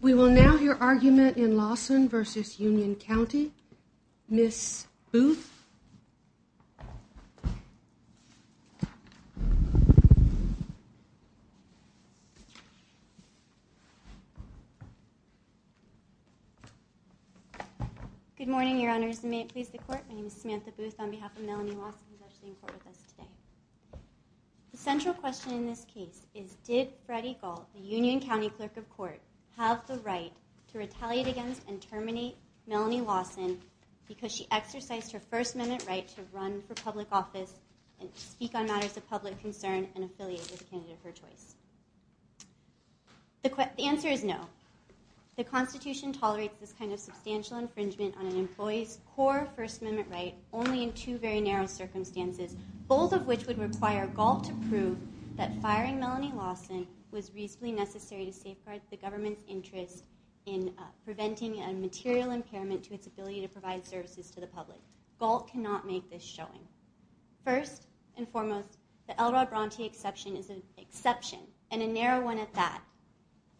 We will now hear argument in Lawson v. Union County, Ms. Booth. Good morning, Your Honors, and may it please the Court, my name is Samantha Booth on behalf of Melanie Lawson who is actually in court with us today. The central question in this case is did Freddie Galt, the Union County Clerk of Court, have the right to retaliate against and terminate Melanie Lawson because she exercised her First Amendment right to run for public office and speak on matters of public concern and affiliate with a candidate of her choice? The answer is no. The Constitution tolerates this kind of substantial infringement on an employee's core First Amendment right only in two very narrow circumstances, both of which would require Galt to prove that firing Melanie Lawson was reasonably necessary to safeguard the government's interest in preventing a material impairment to its ability to provide services to the public. Galt cannot make this showing. First and foremost, the Elrod Bronte exception is an exception and a narrow one at that,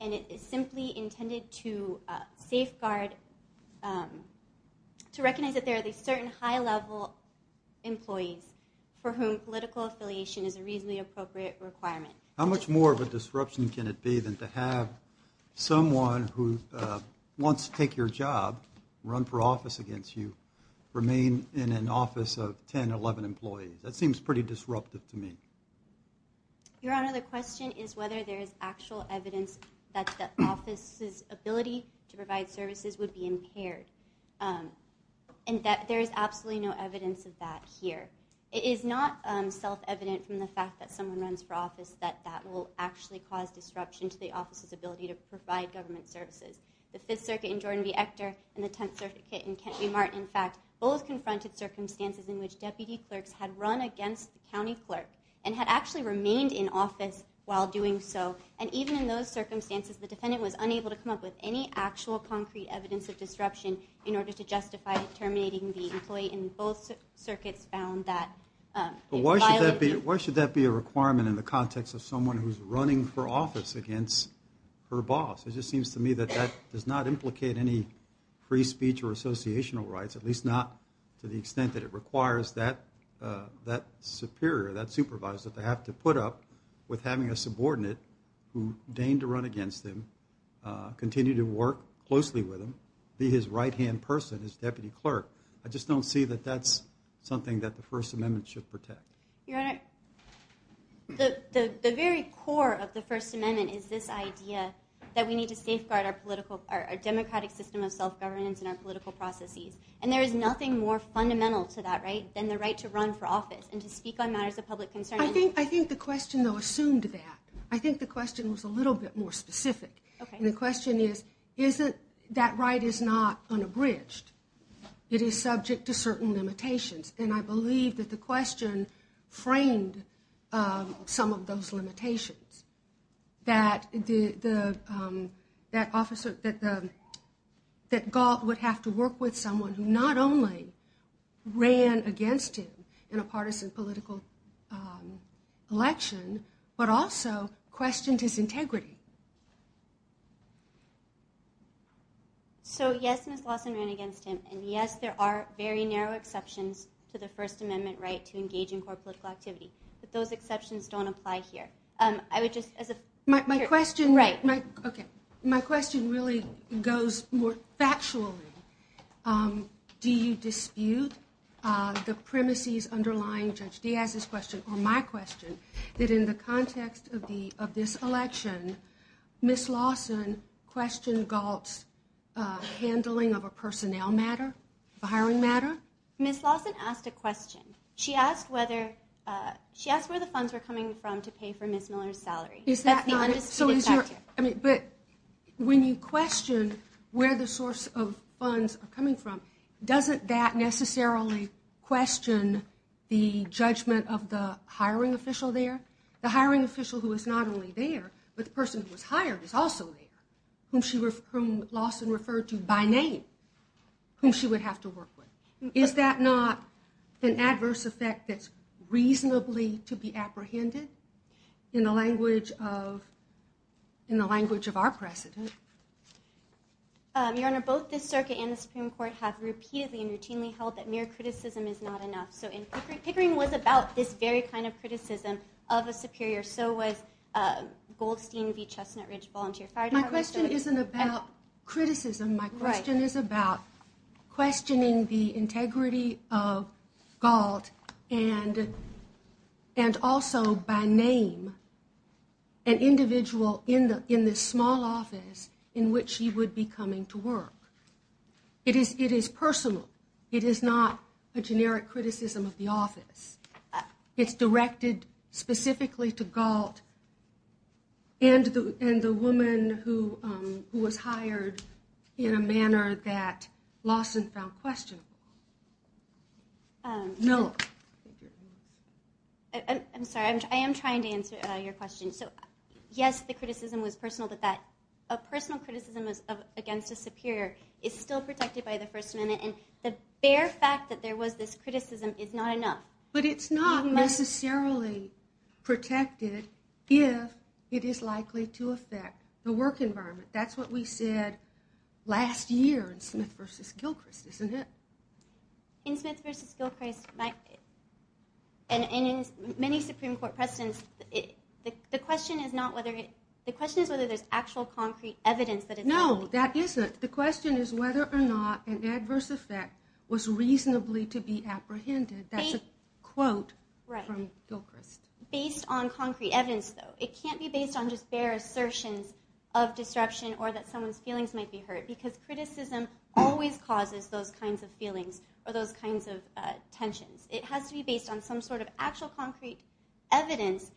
and it is simply intended to safeguard, to recognize that there are these certain high-level employees for whom political affiliation is a reasonably appropriate requirement. How much more of a disruption can it be than to have someone who wants to take your job, run for office against you, remain in an office of 10, 11 employees? That seems pretty disruptive to me. Your Honor, the question is whether there is actual evidence that the office's ability to provide services would be impaired, and there is absolutely no evidence of that here. It is not self-evident from the fact that someone runs for office that that will actually cause disruption to the office's ability to provide government services. The Fifth Circuit in Jordan v. Ector and the Tenth Circuit in Kent v. Martin, in fact, both confronted circumstances in which deputy clerks had run against the county clerk and had actually remained in office while doing so, and even in those circumstances, the defendant was unable to come up with any actual concrete evidence of disruption in order to justify terminating the employee, and both circuits found that it violated... Why should that be a requirement in the context of someone who is running for office against her boss? It just seems to me that that does not implicate any free speech or associational rights, at least not to the extent that it requires that superior, that supervisor, to have to put up with having a subordinate who deigned to run against him, continue to work closely with him, be his right-hand person, his deputy clerk. I just don't see that that's something that the First Amendment should protect. Your Honor, the very core of the First Amendment is this idea that we need to safeguard our democratic system of self-governance and our political processes, and there is nothing more fundamental to that right than the right to run for office and to speak on matters of public concern. I think the question, though, assumed that. I think the question was a little bit more specific. And the question is, that right is not unabridged. It is subject to certain limitations, and I believe that the question framed some of those limitations, that Gault would have to work with someone who not only ran against him in a partisan political election, but also questioned his integrity. So, yes, Ms. Lawson ran against him, and yes, there are very narrow exceptions to the First Amendment right to engage in core political activity, but those exceptions don't apply here. My question really goes more factually. Do you dispute the premises underlying Judge Diaz's question, or my question, that in the context of this election, Ms. Lawson questioned Gault's handling of a personnel matter, of a hiring matter? Ms. Lawson asked a question. She asked where the funds were coming from to pay for Ms. Miller's salary. That's the undisputed fact. But when you question where the source of funds are coming from, doesn't that necessarily question the judgment of the hiring official there? The hiring official who is not only there, but the person who was hired is also there, whom Lawson referred to by name, whom she would have to work with. Is that not an adverse effect that's reasonably to be apprehended in the language of our president? Your Honor, both the circuit and the Supreme Court have repeatedly and routinely held that mere criticism is not enough. Pickering was about this very kind of criticism of a superior, so was Goldstein v. Chestnut Ridge Volunteer Fire Department. My question isn't about criticism. My question is about questioning the integrity of Gault and also, by name, an individual in this small office in which she would be coming to work. It is personal. It is not a generic criticism of the office. It's directed specifically to Gault and the woman who was hired in a manner that Lawson found questionable. Miller. I'm sorry. I am trying to answer your question. So, yes, the criticism was personal, but that personal criticism against a superior is still protected by the First Amendment. And the bare fact that there was this criticism is not enough. But it's not necessarily protected if it is likely to affect the work environment. That's what we said last year in Smith v. Gilchrist, isn't it? In Smith v. Gilchrist, and in many Supreme Court precedents, the question is whether there's actual concrete evidence that it's not. No, that isn't. The question is whether or not an adverse effect was reasonably to be apprehended. That's a quote from Gilchrist. Based on concrete evidence, though. It can't be based on just bare assertions of disruption or that someone's feelings might be hurt. Because criticism always causes those kinds of feelings or those kinds of tensions. It has to be based on some sort of actual concrete evidence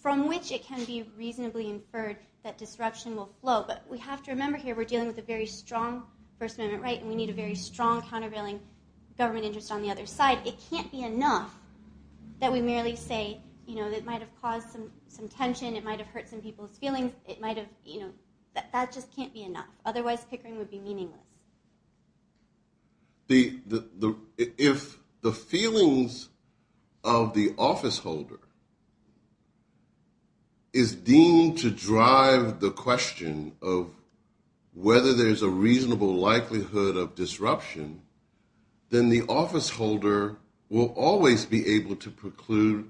from which it can be reasonably inferred that disruption will flow. But we have to remember here we're dealing with a very strong First Amendment right, and we need a very strong countervailing government interest on the other side. It can't be enough that we merely say it might have caused some tension, it might have hurt some people's feelings. That just can't be enough. Otherwise, Pickering would be meaningless. If the feelings of the officeholder is deemed to drive the question of whether there's a reasonable likelihood of disruption, then the officeholder will always be able to preclude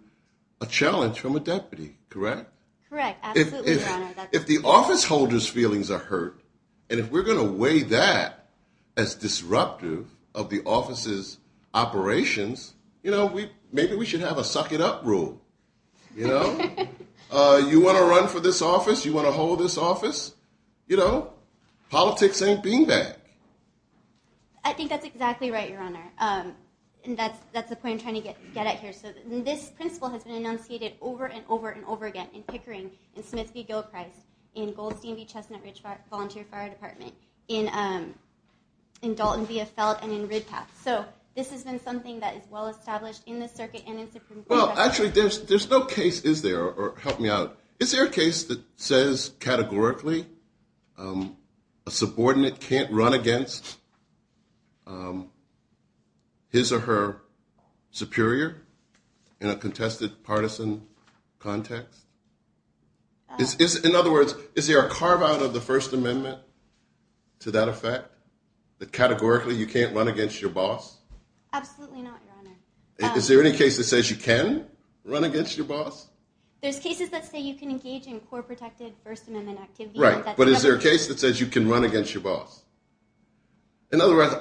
a challenge from a deputy, correct? Correct. If the officeholder's feelings are hurt, and if we're going to weigh that as disruptive of the office's operations, maybe we should have a suck it up rule. You want to run for this office? You want to hold this office? Politics ain't being bad. I think that's exactly right, Your Honor. That's the point I'm trying to get at here. This principle has been enunciated over and over and over again in Pickering, in Smith v. Gilchrist, in Goldstein v. Chestnut Ridge Volunteer Fire Department, in Dalton v. Eiffelt, and in Riddpath. So this has been something that is well established in the circuit and in Supreme Court. Well, actually, there's no case, is there? Help me out. Is there a case that says categorically a subordinate can't run against his or her superior in a contested partisan context? In other words, is there a carve-out of the First Amendment to that effect, that categorically you can't run against your boss? Absolutely not, Your Honor. Is there any case that says you can run against your boss? There's cases that say you can engage in core protected First Amendment activity. Right, but is there a case that says you can run against your boss? In other words,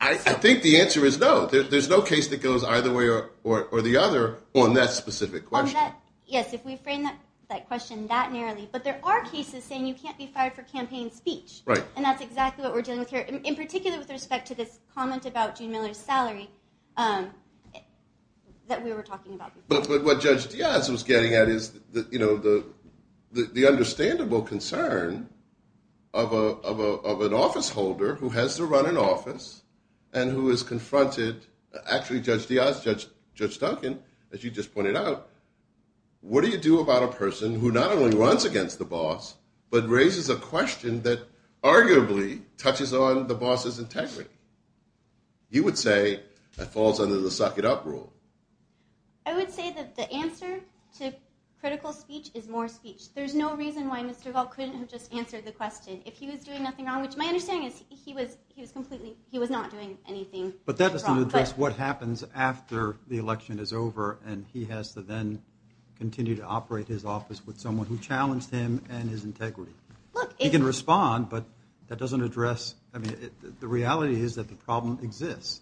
I think the answer is no. There's no case that goes either way or the other on that specific question. Yes, if we frame that question that narrowly. But there are cases saying you can't be fired for campaign speech. Right. And that's exactly what we're dealing with here, in particular with respect to this comment about June Miller's salary that we were talking about. But what Judge Diaz was getting at is the understandable concern of an officeholder who has to run an office and who is confronted, actually Judge Diaz, Judge Duncan, as you just pointed out, what do you do about a person who not only runs against the boss, but raises a question that arguably touches on the boss's integrity? You would say that falls under the suck it up rule. I would say that the answer to critical speech is more speech. There's no reason why Mr. Galt couldn't have just answered the question if he was doing nothing wrong, which my understanding is he was not doing anything wrong. But that doesn't address what happens after the election is over and he has to then continue to operate his office with someone who challenged him and his integrity. He can respond, but that doesn't address, I mean, the reality is that the problem exists.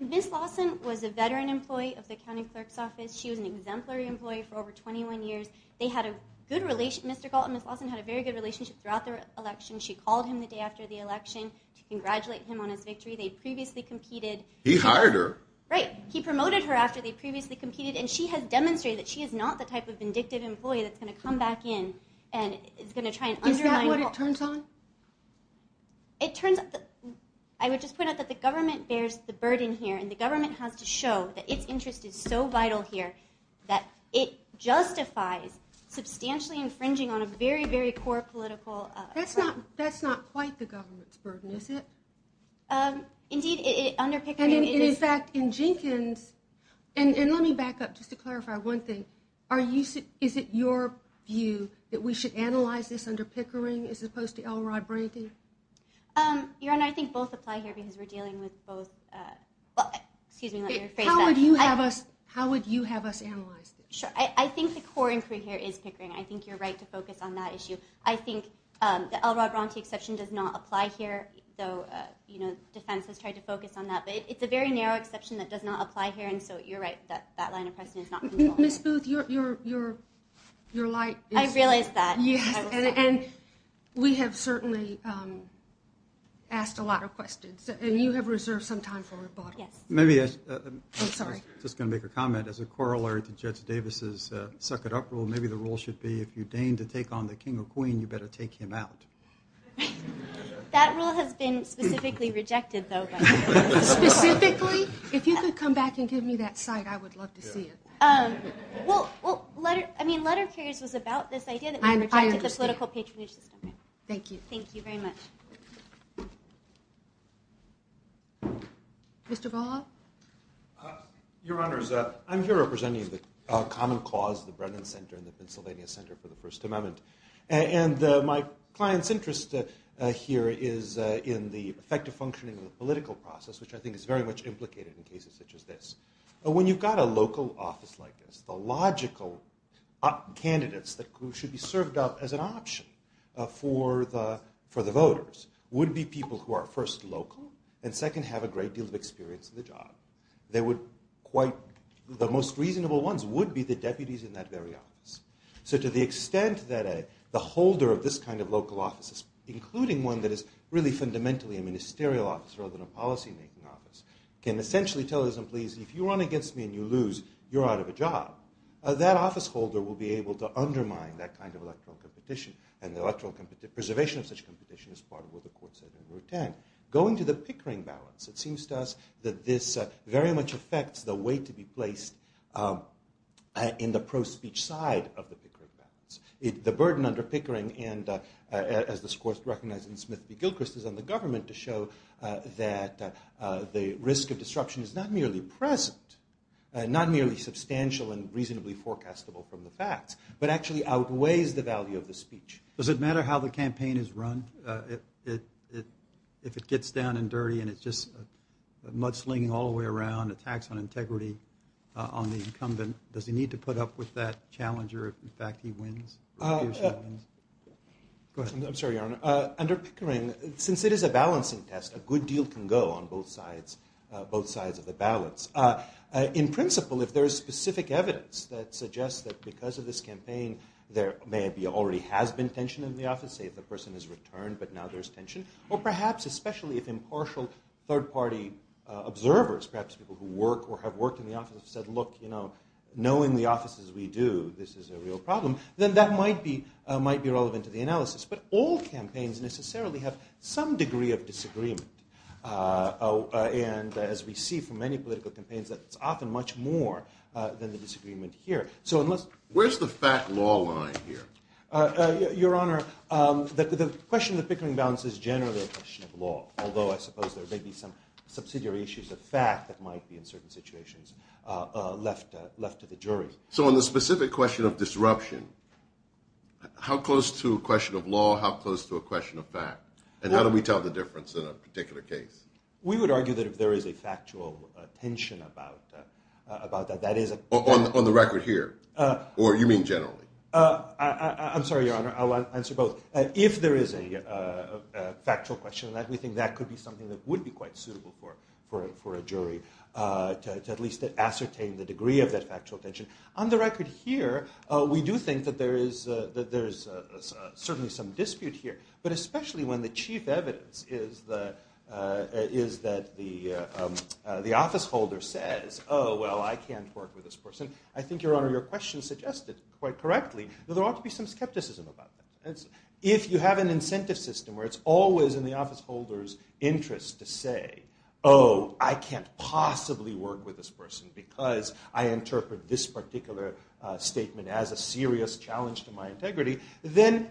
Ms. Lawson was a veteran employee of the county clerk's office. She was an exemplary employee for over 21 years. They had a good relationship, Mr. Galt and Ms. Lawson had a very good relationship throughout the election. She called him the day after the election to congratulate him on his victory. They previously competed. He hired her. Right. He promoted her after they previously competed and she has demonstrated that she is not the type of vindictive employee that's going to come back in and is going to try and undermine. Is that what it turns on? I would just point out that the government bears the burden here and the government has to show that its interest is so vital here that it justifies substantially infringing on a very, very core political right. That's not quite the government's burden, is it? Indeed, under Pickering it is. In fact, in Jenkins, and let me back up just to clarify one thing, is it your view that we should analyze this under Pickering as opposed to Elrod Bronte? Your Honor, I think both apply here because we're dealing with both, excuse me, let me rephrase that. How would you have us analyze this? Sure. I think the core inquiry here is Pickering. I think you're right to focus on that issue. I think the Elrod Bronte exception does not apply here, though defense has tried to focus on that. But it's a very narrow exception that does not apply here, and so you're right that that line of questioning is not controlled. Ms. Booth, your light is… I realize that. Yes, and we have certainly asked a lot of questions, and you have reserved some time for rebuttal. Yes. I was just going to make a comment. As a corollary to Judge Davis' suck-it-up rule, maybe the rule should be if you deign to take on the king or queen, you better take him out. That rule has been specifically rejected, though. Specifically? If you could come back and give me that cite, I would love to see it. Well, I mean, letter of clearance was about this idea that we rejected the political patronage system. Thank you. Thank you very much. Mr. Ball? Your Honors, I'm here representing the common cause, the Brennan Center and the Pennsylvania Center for the First Amendment. And my client's interest here is in the effective functioning of the political process, which I think is very much implicated in cases such as this. When you've got a local office like this, the logical candidates that should be served up as an option for the voters would be people who are, first, local, and, second, have a great deal of experience in the job. They would quite – the most reasonable ones would be the deputies in that very office. So to the extent that the holder of this kind of local office, including one that is really fundamentally a ministerial office rather than a policymaking office, can essentially tell his employees, if you run against me and you lose, you're out of a job, that office holder will be able to undermine that kind of electoral competition. And the electoral – preservation of such competition is part of what the court said in Rule 10. Going to the pickering balance, it seems to us that this very much affects the weight to be placed in the pro-speech side of the pickering balance. The burden under pickering and, as the court recognized in Smith v. Gilchrist, is on the government to show that the risk of disruption is not merely present, not merely substantial and reasonably forecastable from the facts, but actually outweighs the value of the speech. Does it matter how the campaign is run? If it gets down and dirty and it's just mudslinging all the way around, attacks on integrity, on the incumbent, does he need to put up with that challenger if, in fact, he wins? Go ahead. I'm sorry, Your Honor. Under pickering, since it is a balancing test, a good deal can go on both sides of the balance. In principle, if there is specific evidence that suggests that because of this campaign, there maybe already has been tension in the office, say if a person has returned but now there's tension, or perhaps especially if impartial third-party observers, perhaps people who work or have worked in the office, have said, look, you know, knowing the offices we do, this is a real problem, then that might be relevant to the analysis. But all campaigns necessarily have some degree of disagreement. And as we see from many political campaigns, that's often much more than the disagreement here. Where's the fat law line here? Your Honor, the question of the pickering balance is generally a question of law, although I suppose there may be some subsidiary issues of fact that might be in certain situations left to the jury. So on the specific question of disruption, how close to a question of law, how close to a question of fact, and how do we tell the difference in a particular case? We would argue that if there is a factual tension about that, that is a- On the record here, or you mean generally? I'm sorry, Your Honor, I'll answer both. If there is a factual question, we think that could be something that would be quite suitable for a jury to at least ascertain the degree of that factual tension. On the record here, we do think that there is certainly some dispute here, but especially when the chief evidence is that the office holder says, oh, well, I can't work with this person. I think, Your Honor, your question suggested quite correctly that there ought to be some skepticism about that. If you have an incentive system where it's always in the office holder's interest to say, oh, I can't possibly work with this person because I interpret this particular statement as a serious challenge to my integrity, then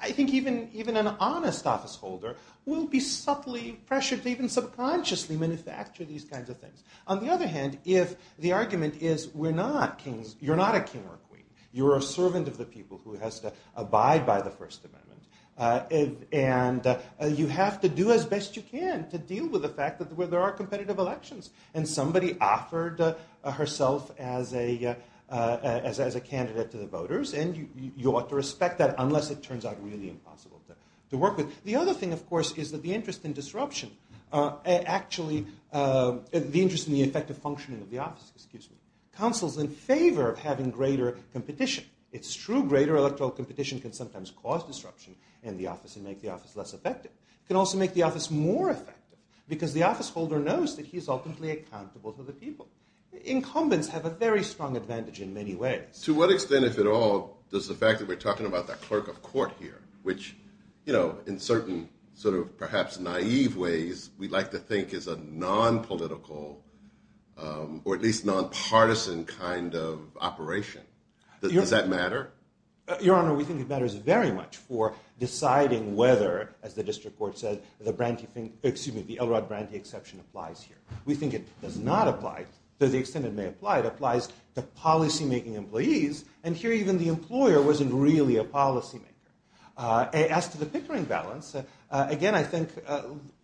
I think even an honest office holder will be subtly pressured to even subconsciously manufacture these kinds of things. On the other hand, if the argument is we're not kings, you're not a king or a queen, you're a servant of the people who has to abide by the First Amendment, and you have to do as best you can to deal with the fact that there are competitive elections, and somebody offered herself as a candidate to the voters, and you ought to respect that unless it turns out really impossible to work with. The other thing, of course, is that the interest in disruption, the interest in the effective functioning of the office counsels in favor of having greater competition. It's true greater electoral competition can sometimes cause disruption in the office and make the office less effective. It can also make the office more effective because the office holder knows that he is ultimately accountable to the people. Incumbents have a very strong advantage in many ways. To what extent, if at all, does the fact that we're talking about that clerk of court here, which in certain sort of perhaps naive ways we'd like to think is a nonpolitical or at least nonpartisan kind of operation, does that matter? Your Honor, we think it matters very much for deciding whether, as the district court said, the Elrod Brantee exception applies here. We think it does not apply to the extent it may apply. It applies to policymaking employees, and here even the employer wasn't really a policymaker. As to the pickering balance, again, I think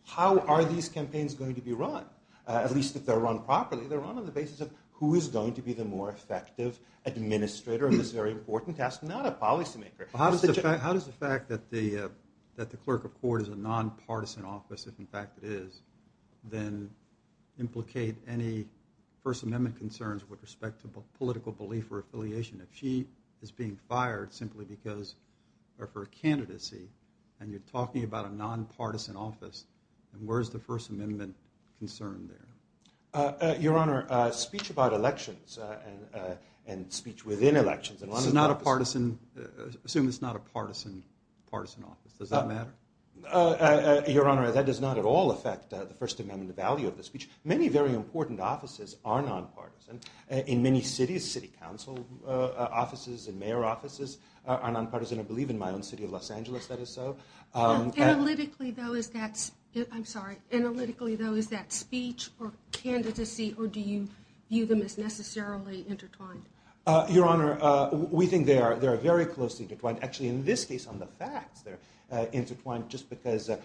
how are these campaigns going to be run? At least if they're run properly, they're run on the basis of who is going to be the more effective administrator in this very important task, not a policymaker. How does the fact that the clerk of court is a nonpartisan office, if in fact it is, then implicate any First Amendment concerns with respect to political belief or affiliation? If she is being fired simply because of her candidacy and you're talking about a nonpartisan office, then where is the First Amendment concern there? Your Honor, speech about elections and speech within elections is not a partisan office. Does that matter? Your Honor, that does not at all affect the First Amendment value of the speech. Many very important offices are nonpartisan. In many cities, city council offices and mayor offices are nonpartisan. I believe in my own city of Los Angeles that is so. Analytically, though, is that speech or candidacy, or do you view them as necessarily intertwined? Your Honor, we think they are very closely intertwined. Actually, in this case on the facts, they're intertwined just because the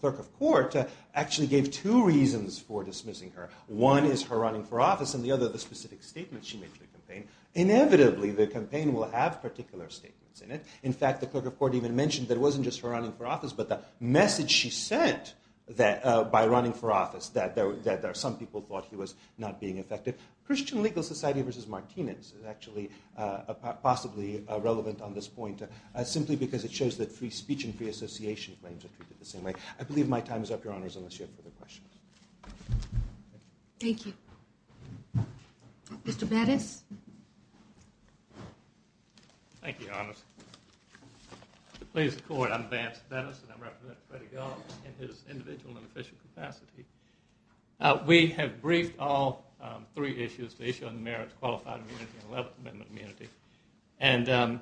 clerk of court actually gave two reasons for dismissing her. One is her running for office, and the other the specific statement she made to the campaign. Inevitably, the campaign will have particular statements in it. In fact, the clerk of court even mentioned that it wasn't just her running for office, but the message she sent by running for office, that some people thought he was not being effective. Christian Legal Society v. Martinez is actually possibly relevant on this point, simply because it shows that free speech and free association claims are treated the same way. I believe my time is up, Your Honors, unless you have further questions. Thank you. Mr. Bennis? Thank you, Your Honors. To please the Court, I'm Vance Bennis, and I represent Freddy Galt in his individual and official capacity. We have briefed all three issues, the issue on the merits of qualified immunity and 11th Amendment immunity, and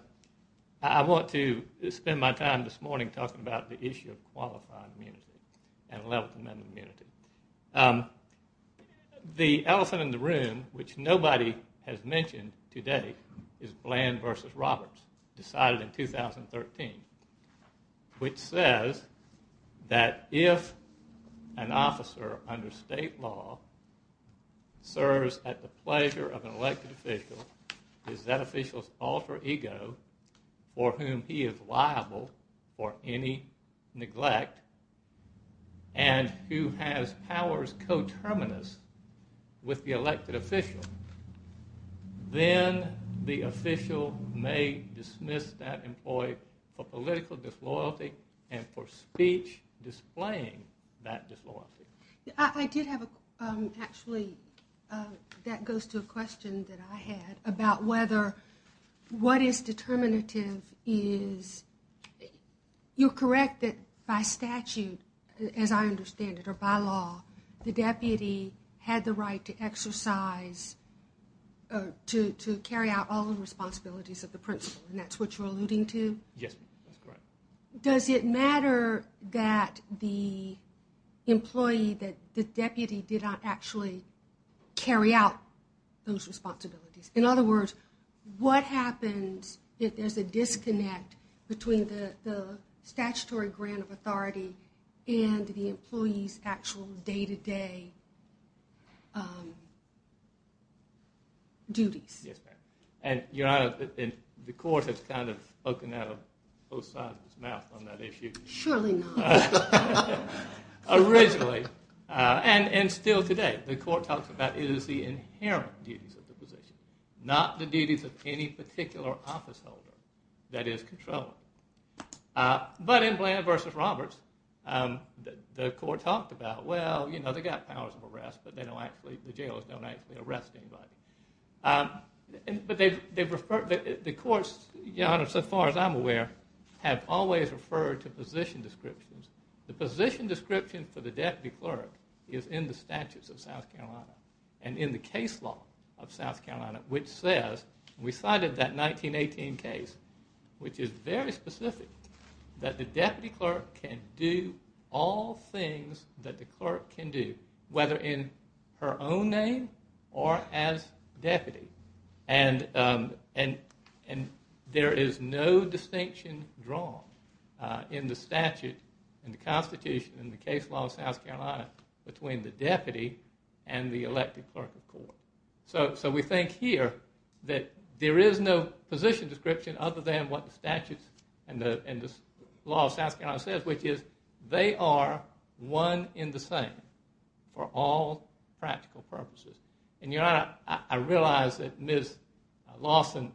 I want to spend my time this morning talking about the issue of qualified immunity and 11th Amendment immunity. The elephant in the room, which nobody has mentioned today, is Bland v. Roberts, decided in 2013, which says that if an officer under state law serves at the pleasure of an elected official, if that official's alter ego, for whom he is liable for any neglect, and who has powers coterminous with the elected official, then the official may dismiss that employee for political disloyalty and for speech displaying that disloyalty. I did have a, actually, that goes to a question that I had about whether what is determinative is, you're correct that by statute, as I understand it, or by law, the deputy had the right to exercise, to carry out all the responsibilities of the principal, and that's what you're alluding to? Yes, that's correct. Does it matter that the employee, that the deputy did not actually carry out those responsibilities? In other words, what happens if there's a disconnect between the statutory grant of authority and the employee's actual day-to-day duties? Yes, ma'am. And the court has kind of spoken out of both sides of its mouth on that issue. Surely not. Originally, and still today, the court talks about it as the inherent duties of the position, not the duties of any particular officeholder that is controlling. But in Bland v. Roberts, the court talked about, well, you know, they've got powers of arrest, but the jailers don't actually arrest anybody. But the courts, so far as I'm aware, have always referred to position descriptions. The position description for the deputy clerk is in the statutes of South Carolina and in the case law of South Carolina, which says, we cited that 1918 case, which is very specific, that the deputy clerk can do all things that the clerk can do, whether in her own name or as deputy. And there is no distinction drawn in the statute, in the constitution, in the case law of South Carolina, between the deputy and the elected clerk of court. So we think here that there is no position description other than what the statutes and the law of South Carolina says, which is they are one in the same for all practical purposes. And Your Honor, I realize that Ms. Lawson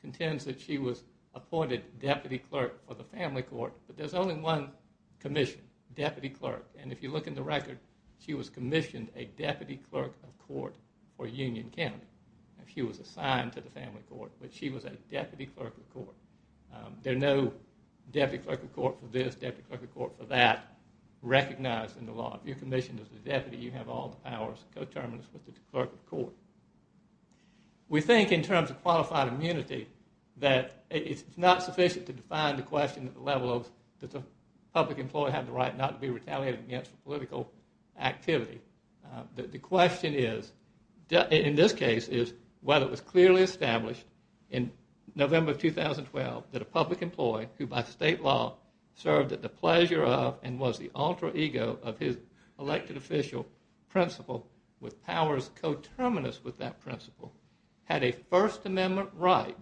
contends that she was appointed deputy clerk for the family court, but there's only one commission, deputy clerk. And if you look in the record, she was commissioned a deputy clerk of court for Union County. She was assigned to the family court, but she was a deputy clerk of court. There's no deputy clerk of court for this, deputy clerk of court for that, recognized in the law. If you're commissioned as a deputy, you have all the powers and co-terminus with the clerk of court. We think in terms of qualified immunity that it's not sufficient to define the question at the level of does a public employee have the right not to be retaliated against for political activity. The question in this case is whether it was clearly established in November of 2012 that a public employee, who by state law served at the pleasure of and was the alter ego of his elected official principal with powers co-terminus with that principal, had a First Amendment right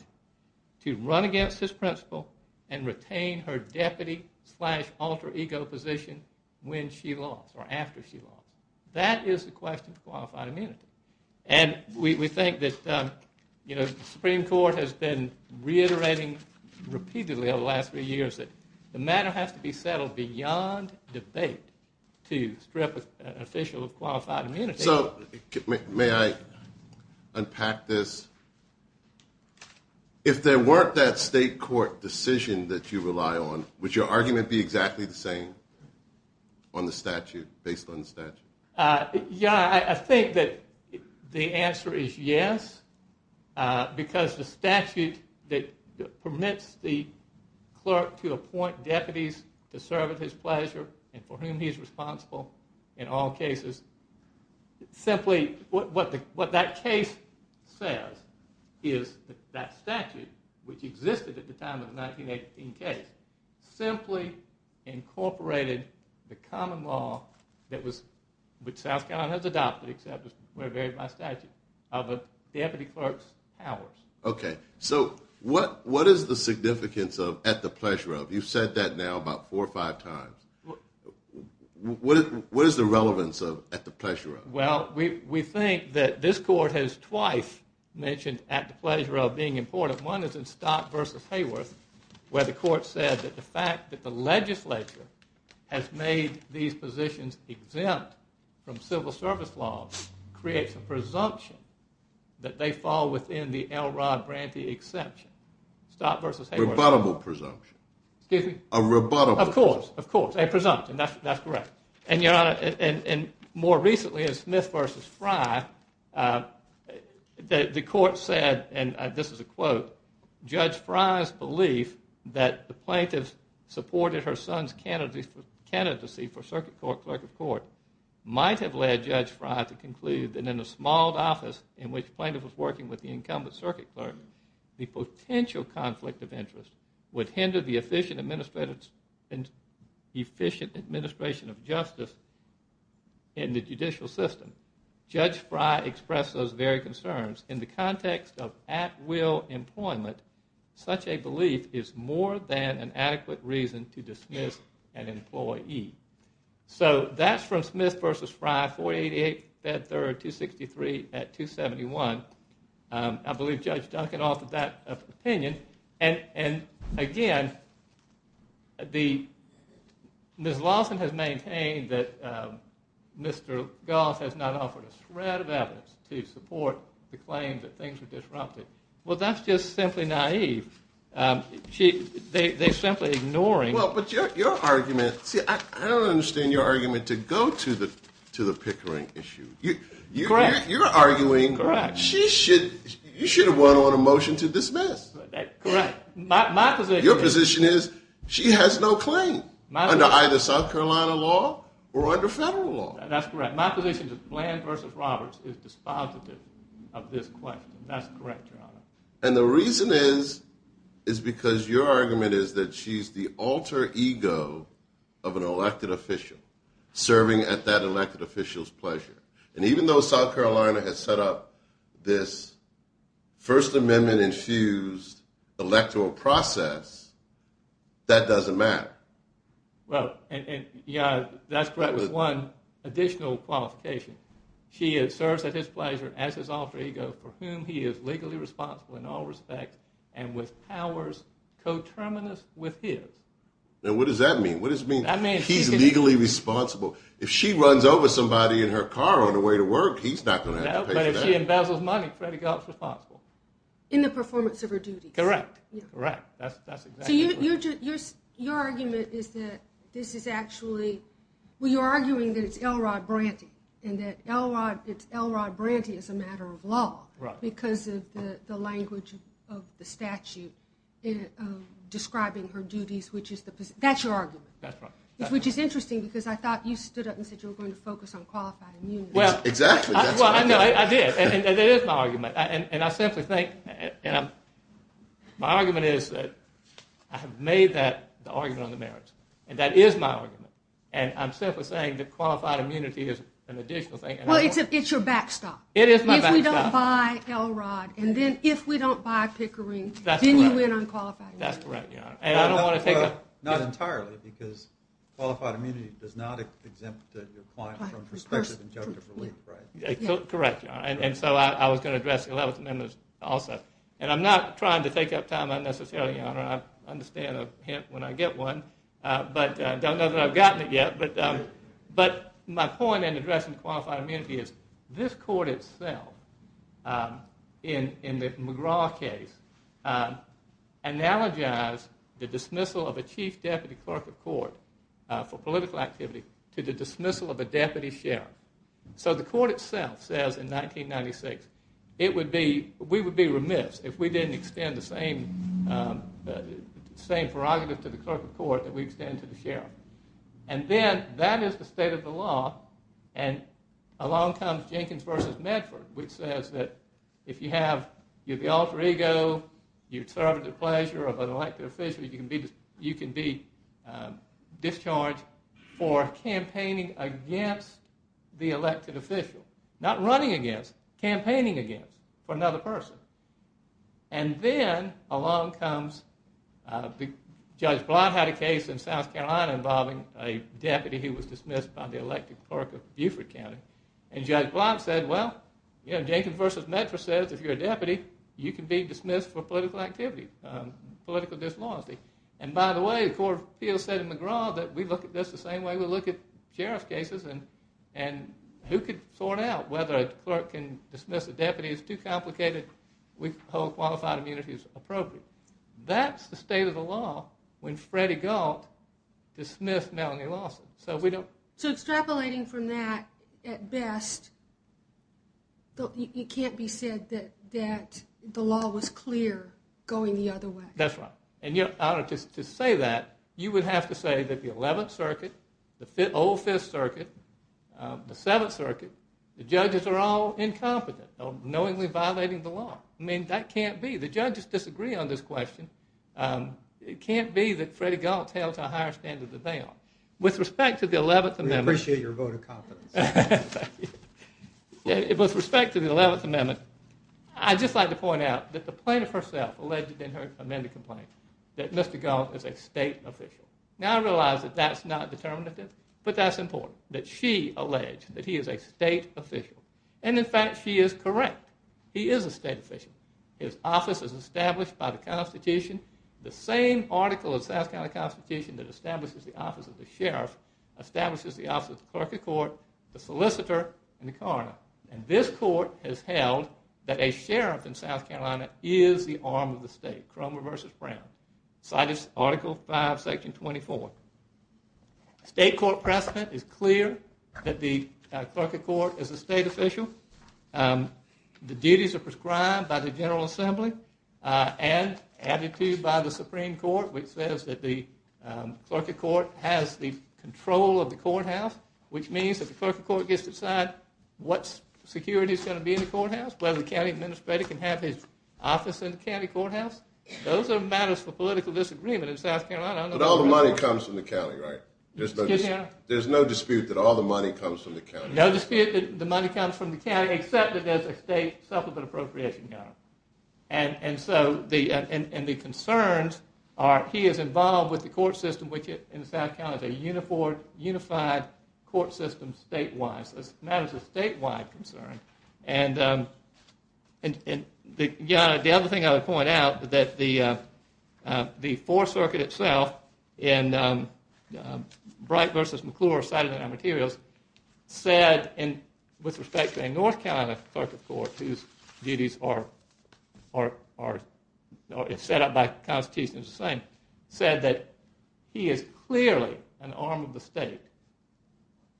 to run against his principal and retain her deputy slash alter ego position when she lost or after she lost. That is the question of qualified immunity. And we think that the Supreme Court has been reiterating repeatedly over the last few years that the matter has to be settled beyond debate to strip an official of qualified immunity. So may I unpack this? If there weren't that state court decision that you rely on, would your argument be exactly the same on the statute, based on the statute? Yeah, I think that the answer is yes, because the statute that permits the clerk to appoint deputies to serve at his pleasure and for whom he is responsible in all cases, simply what that case says is that statute, which existed at the time of the 1918 case, simply incorporated the common law, which South Carolina has adopted, except it's very varied by statute, of the deputy clerk's powers. Okay, so what is the significance of at the pleasure of? You've said that now about four or five times. What is the relevance of at the pleasure of? Well, we think that this court has twice mentioned at the pleasure of being important. One is in Stott v. Hayworth, where the court said that the fact that the legislature has made these positions exempt from civil service laws creates a presumption that they fall within the L. Rod Brantley exception. A rebuttable presumption. Excuse me? A rebuttable presumption. Of course, of course, a presumption. That's correct. And, Your Honor, more recently in Smith v. Fry, the court said, and this is a quote, Judge Fry's belief that the plaintiff supported her son's candidacy for circuit court clerk of court might have led Judge Fry to conclude that in a small office in which the plaintiff was working with the incumbent circuit clerk, the potential conflict of interest would hinder the efficient administration of justice in the judicial system. Judge Fry expressed those very concerns. In the context of at-will employment, such a belief is more than an adequate reason to dismiss an employee. So that's from Smith v. Fry, 488 Bed 3rd, 263 at 271. I believe Judge Duncan offered that opinion. And, again, Ms. Lawson has maintained that Mr. Goss has not offered a shred of evidence to support the claim that things were disrupted. Well, that's just simply naive. They're simply ignoring. Well, but your argument, see, I don't understand your argument to go to the Pickering issue. Correct. You should have won on a motion to dismiss. Correct. Your position is she has no claim under either South Carolina law or under federal law. That's correct. My position is that Bland v. Roberts is dispositive of this question. That's correct, Your Honor. And the reason is because your argument is that she's the alter ego of an elected official serving at that elected official's pleasure. And even though South Carolina has set up this First Amendment-infused electoral process, that doesn't matter. Well, and, Your Honor, that's correct with one additional qualification. She serves at his pleasure as his alter ego for whom he is legally responsible in all respect and with powers coterminous with his. Now, what does that mean? What does it mean he's legally responsible? If she runs over somebody in her car on the way to work, he's not going to have to pay for that. No, but if she embezzles money, Freddie Gough is responsible. In the performance of her duties. Correct. Correct. That's exactly correct. So your argument is that this is actually – well, you're arguing that it's Elrod Branty and that Elrod Branty is a matter of law because of the language of the statute describing her duties, which is the – that's your argument. That's right. Which is interesting because I thought you stood up and said you were going to focus on qualified immunity. Exactly. Well, I did. And it is my argument. And I simply think – my argument is that I have made that the argument on the merits. And that is my argument. And I'm simply saying that qualified immunity is an additional thing. Well, it's your backstop. It is my backstop. If we don't buy Elrod and then if we don't buy Pickering, then you win on qualified immunity. That's correct, Your Honor. Not entirely because qualified immunity does not exempt your client from prospective injunctive relief, right? Correct, Your Honor. And so I was going to address the Eleventh Amendment also. And I'm not trying to take up time unnecessarily, Your Honor. I understand a hint when I get one. But I don't know that I've gotten it yet. But my point in addressing qualified immunity is this court itself in the McGraw case analogized the dismissal of a chief deputy clerk of court for political activity to the dismissal of a deputy sheriff. So the court itself says in 1996, we would be remiss if we didn't extend the same prerogative to the clerk of court that we extend to the sheriff. And then that is the state of the law. And along comes Jenkins v. Medford, which says that if you have the alter ego, your conservative pleasure of an elected official, you can be discharged for campaigning against the elected official. Not running against, campaigning against for another person. And then along comes, Judge Blatt had a case in South Carolina involving a deputy who was dismissed by the elected clerk of Beaufort County. And Judge Blatt said, well, Jenkins v. Medford says if you're a deputy, you can be dismissed for political activity, political disloyalty. And by the way, the Court of Appeals said in McGraw that we look at this the same way we look at sheriff's cases. And who could sort out whether a clerk can dismiss a deputy? It's too complicated. We hold qualified immunity as appropriate. That's the state of the law when Freddie Galt dismissed Melanie Lawson. So extrapolating from that, at best, it can't be said that the law was clear going the other way. That's right. And to say that, you would have to say that the 11th Circuit, the old 5th Circuit, the 7th Circuit, the judges are all incompetent, knowingly violating the law. I mean, that can't be. The judges disagree on this question. It can't be that Freddie Galt held to a higher standard than they are. With respect to the 11th Amendment. We appreciate your vote of confidence. With respect to the 11th Amendment, I'd just like to point out that the plaintiff herself alleged in her amended complaint that Mr. Galt is a state official. Now, I realize that that's not determinative, but that's important, that she alleged that he is a state official. And in fact, she is correct. He is a state official. His office is established by the Constitution, the same article of the South Carolina Constitution that establishes the office of the sheriff, establishes the office of the clerk of court, the solicitor, and the coroner. And this court has held that a sheriff in South Carolina is the arm of the state. Cromer v. Brown. Cited Article 5, Section 24. State court precedent is clear that the clerk of court is a state official. The duties are prescribed by the General Assembly and added to by the Supreme Court, which says that the clerk of court has the control of the courthouse, which means that the clerk of court gets to decide what security is going to be in the courthouse, whether the county administrator can have his office in the county courthouse. Those are matters for political disagreement in South Carolina. But all the money comes from the county, right? There's no dispute that all the money comes from the county. No dispute that the money comes from the county, except that there's a state supplement appropriation. And so the concerns are he is involved with the court system, which in South Carolina is a unified court system statewide. So that is a statewide concern. And the other thing I would point out is that the 4th Circuit itself in Bright v. McClure, cited in our materials, said with respect to a North Carolina clerk of court, whose duties are set up by the Constitution as the same, said that he is clearly an arm of the state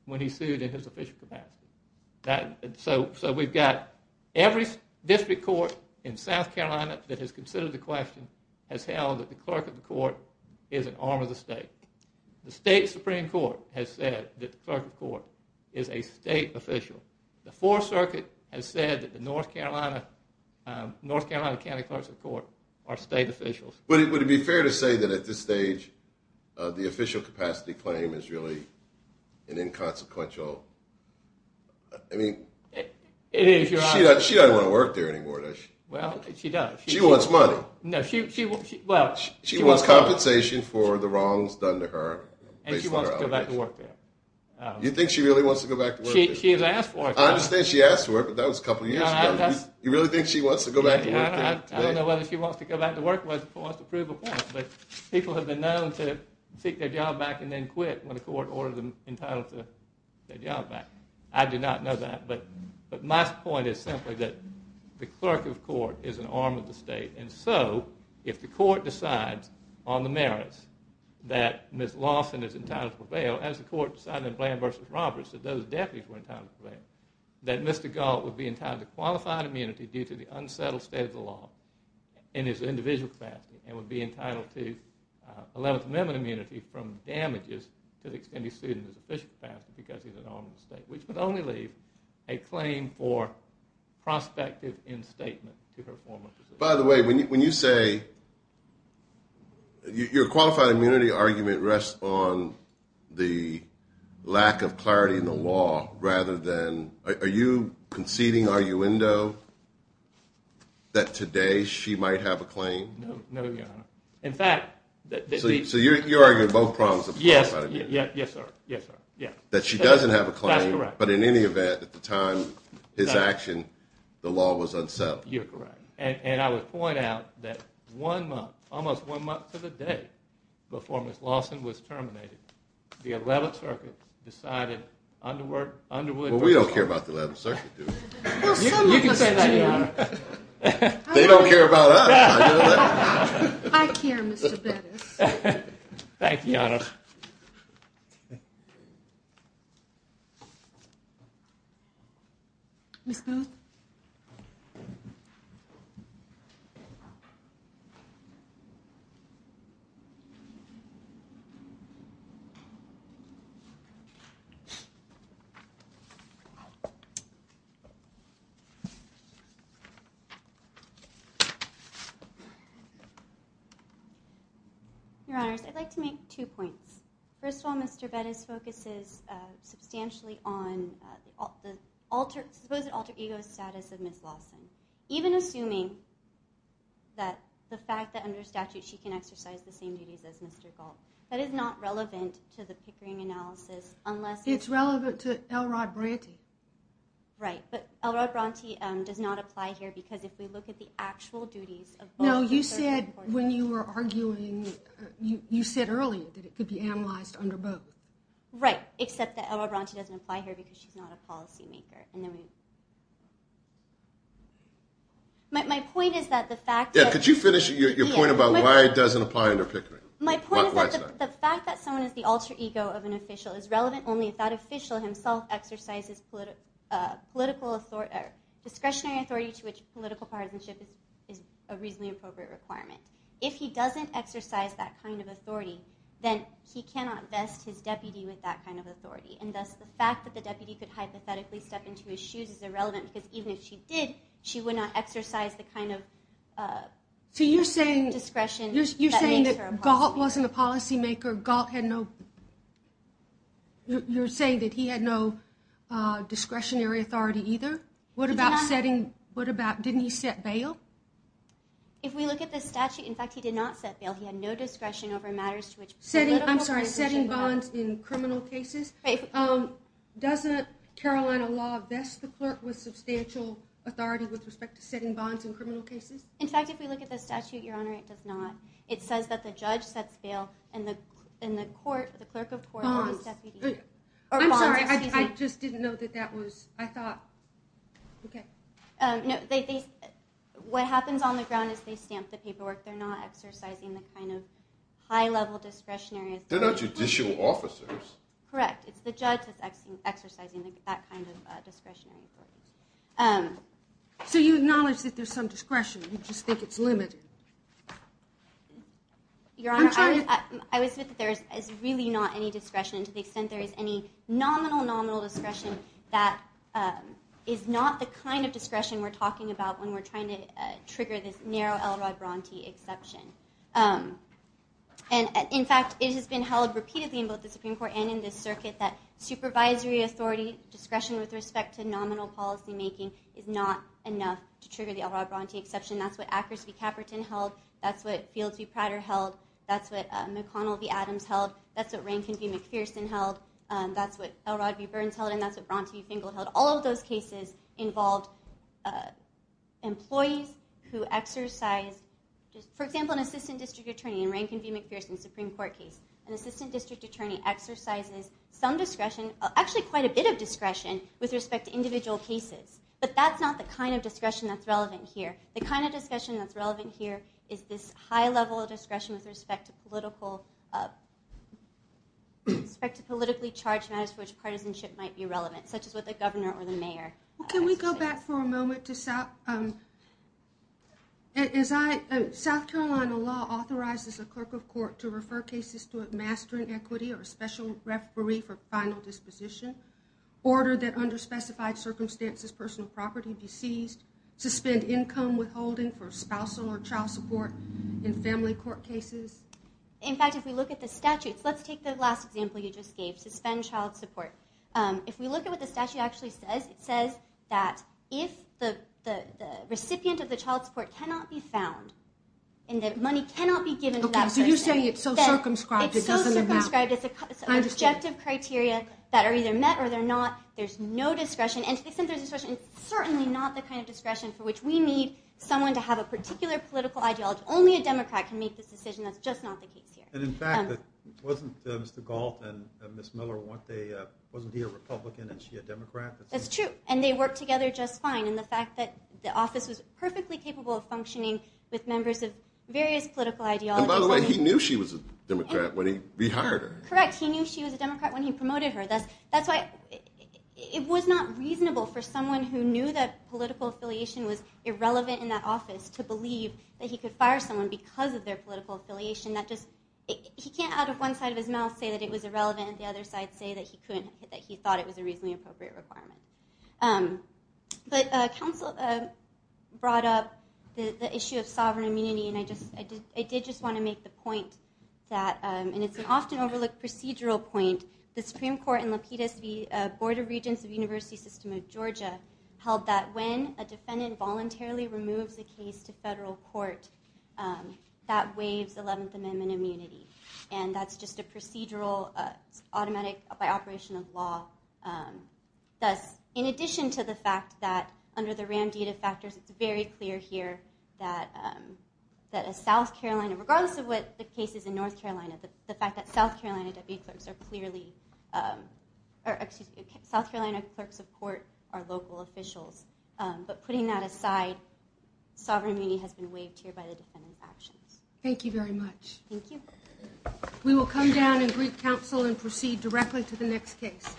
when he's sued in his official capacity. So we've got every district court in South Carolina that has considered the question has held that the clerk of the court is an arm of the state. The state Supreme Court has said that the clerk of court is a state official. The 4th Circuit has said that the North Carolina county clerks of court are state officials. Would it be fair to say that at this stage the official capacity claim is really an inconsequential? I mean, she doesn't want to work there anymore, does she? Well, she does. She wants money. She wants compensation for the wrongs done to her. And she wants to go back to work there. You think she really wants to go back to work there? She has asked for it. I understand she asked for it, but that was a couple of years ago. You really think she wants to go back to work there? I don't know whether she wants to go back to work or whether she wants to prove a point. But people have been known to seek their job back and then quit when the court ordered them entitled to their job back. I do not know that. But my point is simply that the clerk of court is an arm of the state. And so, if the court decides on the merits that Ms. Lawson is entitled to prevail, as the court decided in Bland v. Roberts that those deputies were entitled to prevail, that Mr. Galt would be entitled to qualified immunity due to the unsettled state of the law in his individual capacity and would be entitled to Eleventh Amendment immunity from damages to the extended student's official capacity because he's an arm of the state, which would only leave a claim for prospective instatement to her former position. By the way, when you say your qualified immunity argument rests on the lack of clarity in the law rather than – are you conceding arguendo that today she might have a claim? No, Your Honor. In fact – So you're arguing both prongs of qualified immunity? Yes, sir. Yes, sir. That she doesn't have a claim. That's correct. But in any event, at the time, his action, the law was unsettled. You're correct. And I would point out that one month, almost one month to the day before Ms. Lawson was terminated, the Eleventh Circuit decided under what – Well, we don't care about the Eleventh Circuit, do we? Well, some of us do. You can say that, Your Honor. They don't care about us. I care, Mr. Bettis. Thank you, Your Honor. Your Honors, I'd like to make two points. First of all, Mr. Bettis focuses substantially on the supposed alter ego status of Ms. Lawson. Even assuming that the fact that under statute she can exercise the same duties as Mr. Galt, that is not relevant to the Pickering analysis unless – It's relevant to L. Rod Bronte. Right, but L. Rod Bronte does not apply here because if we look at the actual duties of both – No, you said when you were arguing, you said earlier that it could be analyzed under both. Right, except that L. Rod Bronte doesn't apply here because she's not a policymaker. My point is that the fact that – Yeah, could you finish your point about why it doesn't apply under Pickering? My point is that the fact that someone is the alter ego of an official is relevant only if that official himself exercises discretionary authority to which political partisanship is a reasonably appropriate requirement. If he doesn't exercise that kind of authority, then he cannot vest his deputy with that kind of authority, and thus the fact that the deputy could hypothetically step into his shoes is irrelevant because even if she did, she would not exercise the kind of discretion that makes her a policymaker. You're saying that he had no discretionary authority either? What about – didn't he set bail? If we look at the statute – in fact, he did not set bail. He had no discretion over matters to which – I'm sorry, setting bonds in criminal cases. Doesn't Carolina law vest the clerk with substantial authority with respect to setting bonds in criminal cases? In fact, if we look at the statute, Your Honor, it does not. It says that the judge sets bail and the clerk of court – Bonds. I'm sorry, I just didn't know that that was – I thought – okay. No, what happens on the ground is they stamp the paperwork. They're not exercising the kind of high-level discretionary authority. They're not judicial officers. Correct. It's the judge that's exercising that kind of discretionary authority. So you acknowledge that there's some discretion. You just think it's limited. Your Honor, I would submit that there is really not any discretion to the extent there is any nominal, nominal discretion that is not the kind of discretion we're talking about when we're trying to trigger this narrow Elrod Bronte exception. And, in fact, it has been held repeatedly in both the Supreme Court and in this circuit that supervisory authority, discretion with respect to nominal policymaking, is not enough to trigger the Elrod Bronte exception. That's what Akers v. Caperton held. That's what Fields v. Prater held. That's what McConnell v. Adams held. That's what Rankin v. McPherson held. That's what Elrod v. Burns held, and that's what Bronte v. Finkel held. All of those cases involved employees who exercised – for example, an assistant district attorney in Rankin v. McPherson's Supreme Court case. An assistant district attorney exercises some discretion, actually quite a bit of discretion, with respect to individual cases. But that's not the kind of discretion that's relevant here. The kind of discretion that's relevant here is this high level of discretion with respect to politically charged matters for which partisanship might be relevant, such as with the governor or the mayor. Can we go back for a moment? South Carolina law authorizes a clerk of court to refer cases to a master in equity or special referee for final disposition, order that under specified circumstances personal property be seized, suspend income withholding for spousal or child support in family court cases. In fact, if we look at the statutes – let's take the last example you just gave, suspend child support. If we look at what the statute actually says, it says that if the recipient of the child support cannot be found and that money cannot be given to that person – Okay, so you're saying it's so circumscribed it doesn't amount – It's so circumscribed. It's an objective criteria that are either met or they're not. There's no discretion. And to the extent there's discretion, it's certainly not the kind of discretion for which we need someone to have a particular political ideology. Only a Democrat can make this decision. That's just not the case here. And in fact, wasn't Mr. Galt and Ms. Miller, wasn't he a Republican and she a Democrat? That's true. And they worked together just fine. And the fact that the office was perfectly capable of functioning with members of various political ideologies – And by the way, he knew she was a Democrat when he rehired her. Correct. He knew she was a Democrat when he promoted her. That's why it was not reasonable for someone who knew that political affiliation was irrelevant in that office to believe that he could fire someone because of their political affiliation. He can't out of one side of his mouth say that it was irrelevant and the other side say that he thought it was a reasonably appropriate requirement. But counsel brought up the issue of sovereign immunity. And I did just want to make the point that – and it's an often overlooked procedural point. The Supreme Court in Lapidus v. Board of Regents of University System of Georgia held that when a defendant voluntarily removes a case to federal court, that waives 11th Amendment immunity. And that's just a procedural, automatic, by operation of law. Thus, in addition to the fact that under the RAMD data factors, it's very clear here that a South Carolina – regardless of what the case is in North Carolina, the fact that South Carolina deputies are clearly – But putting that aside, sovereign immunity has been waived here by the defendant's actions. Thank you very much. Thank you. We will come down and greet counsel and proceed directly to the next case.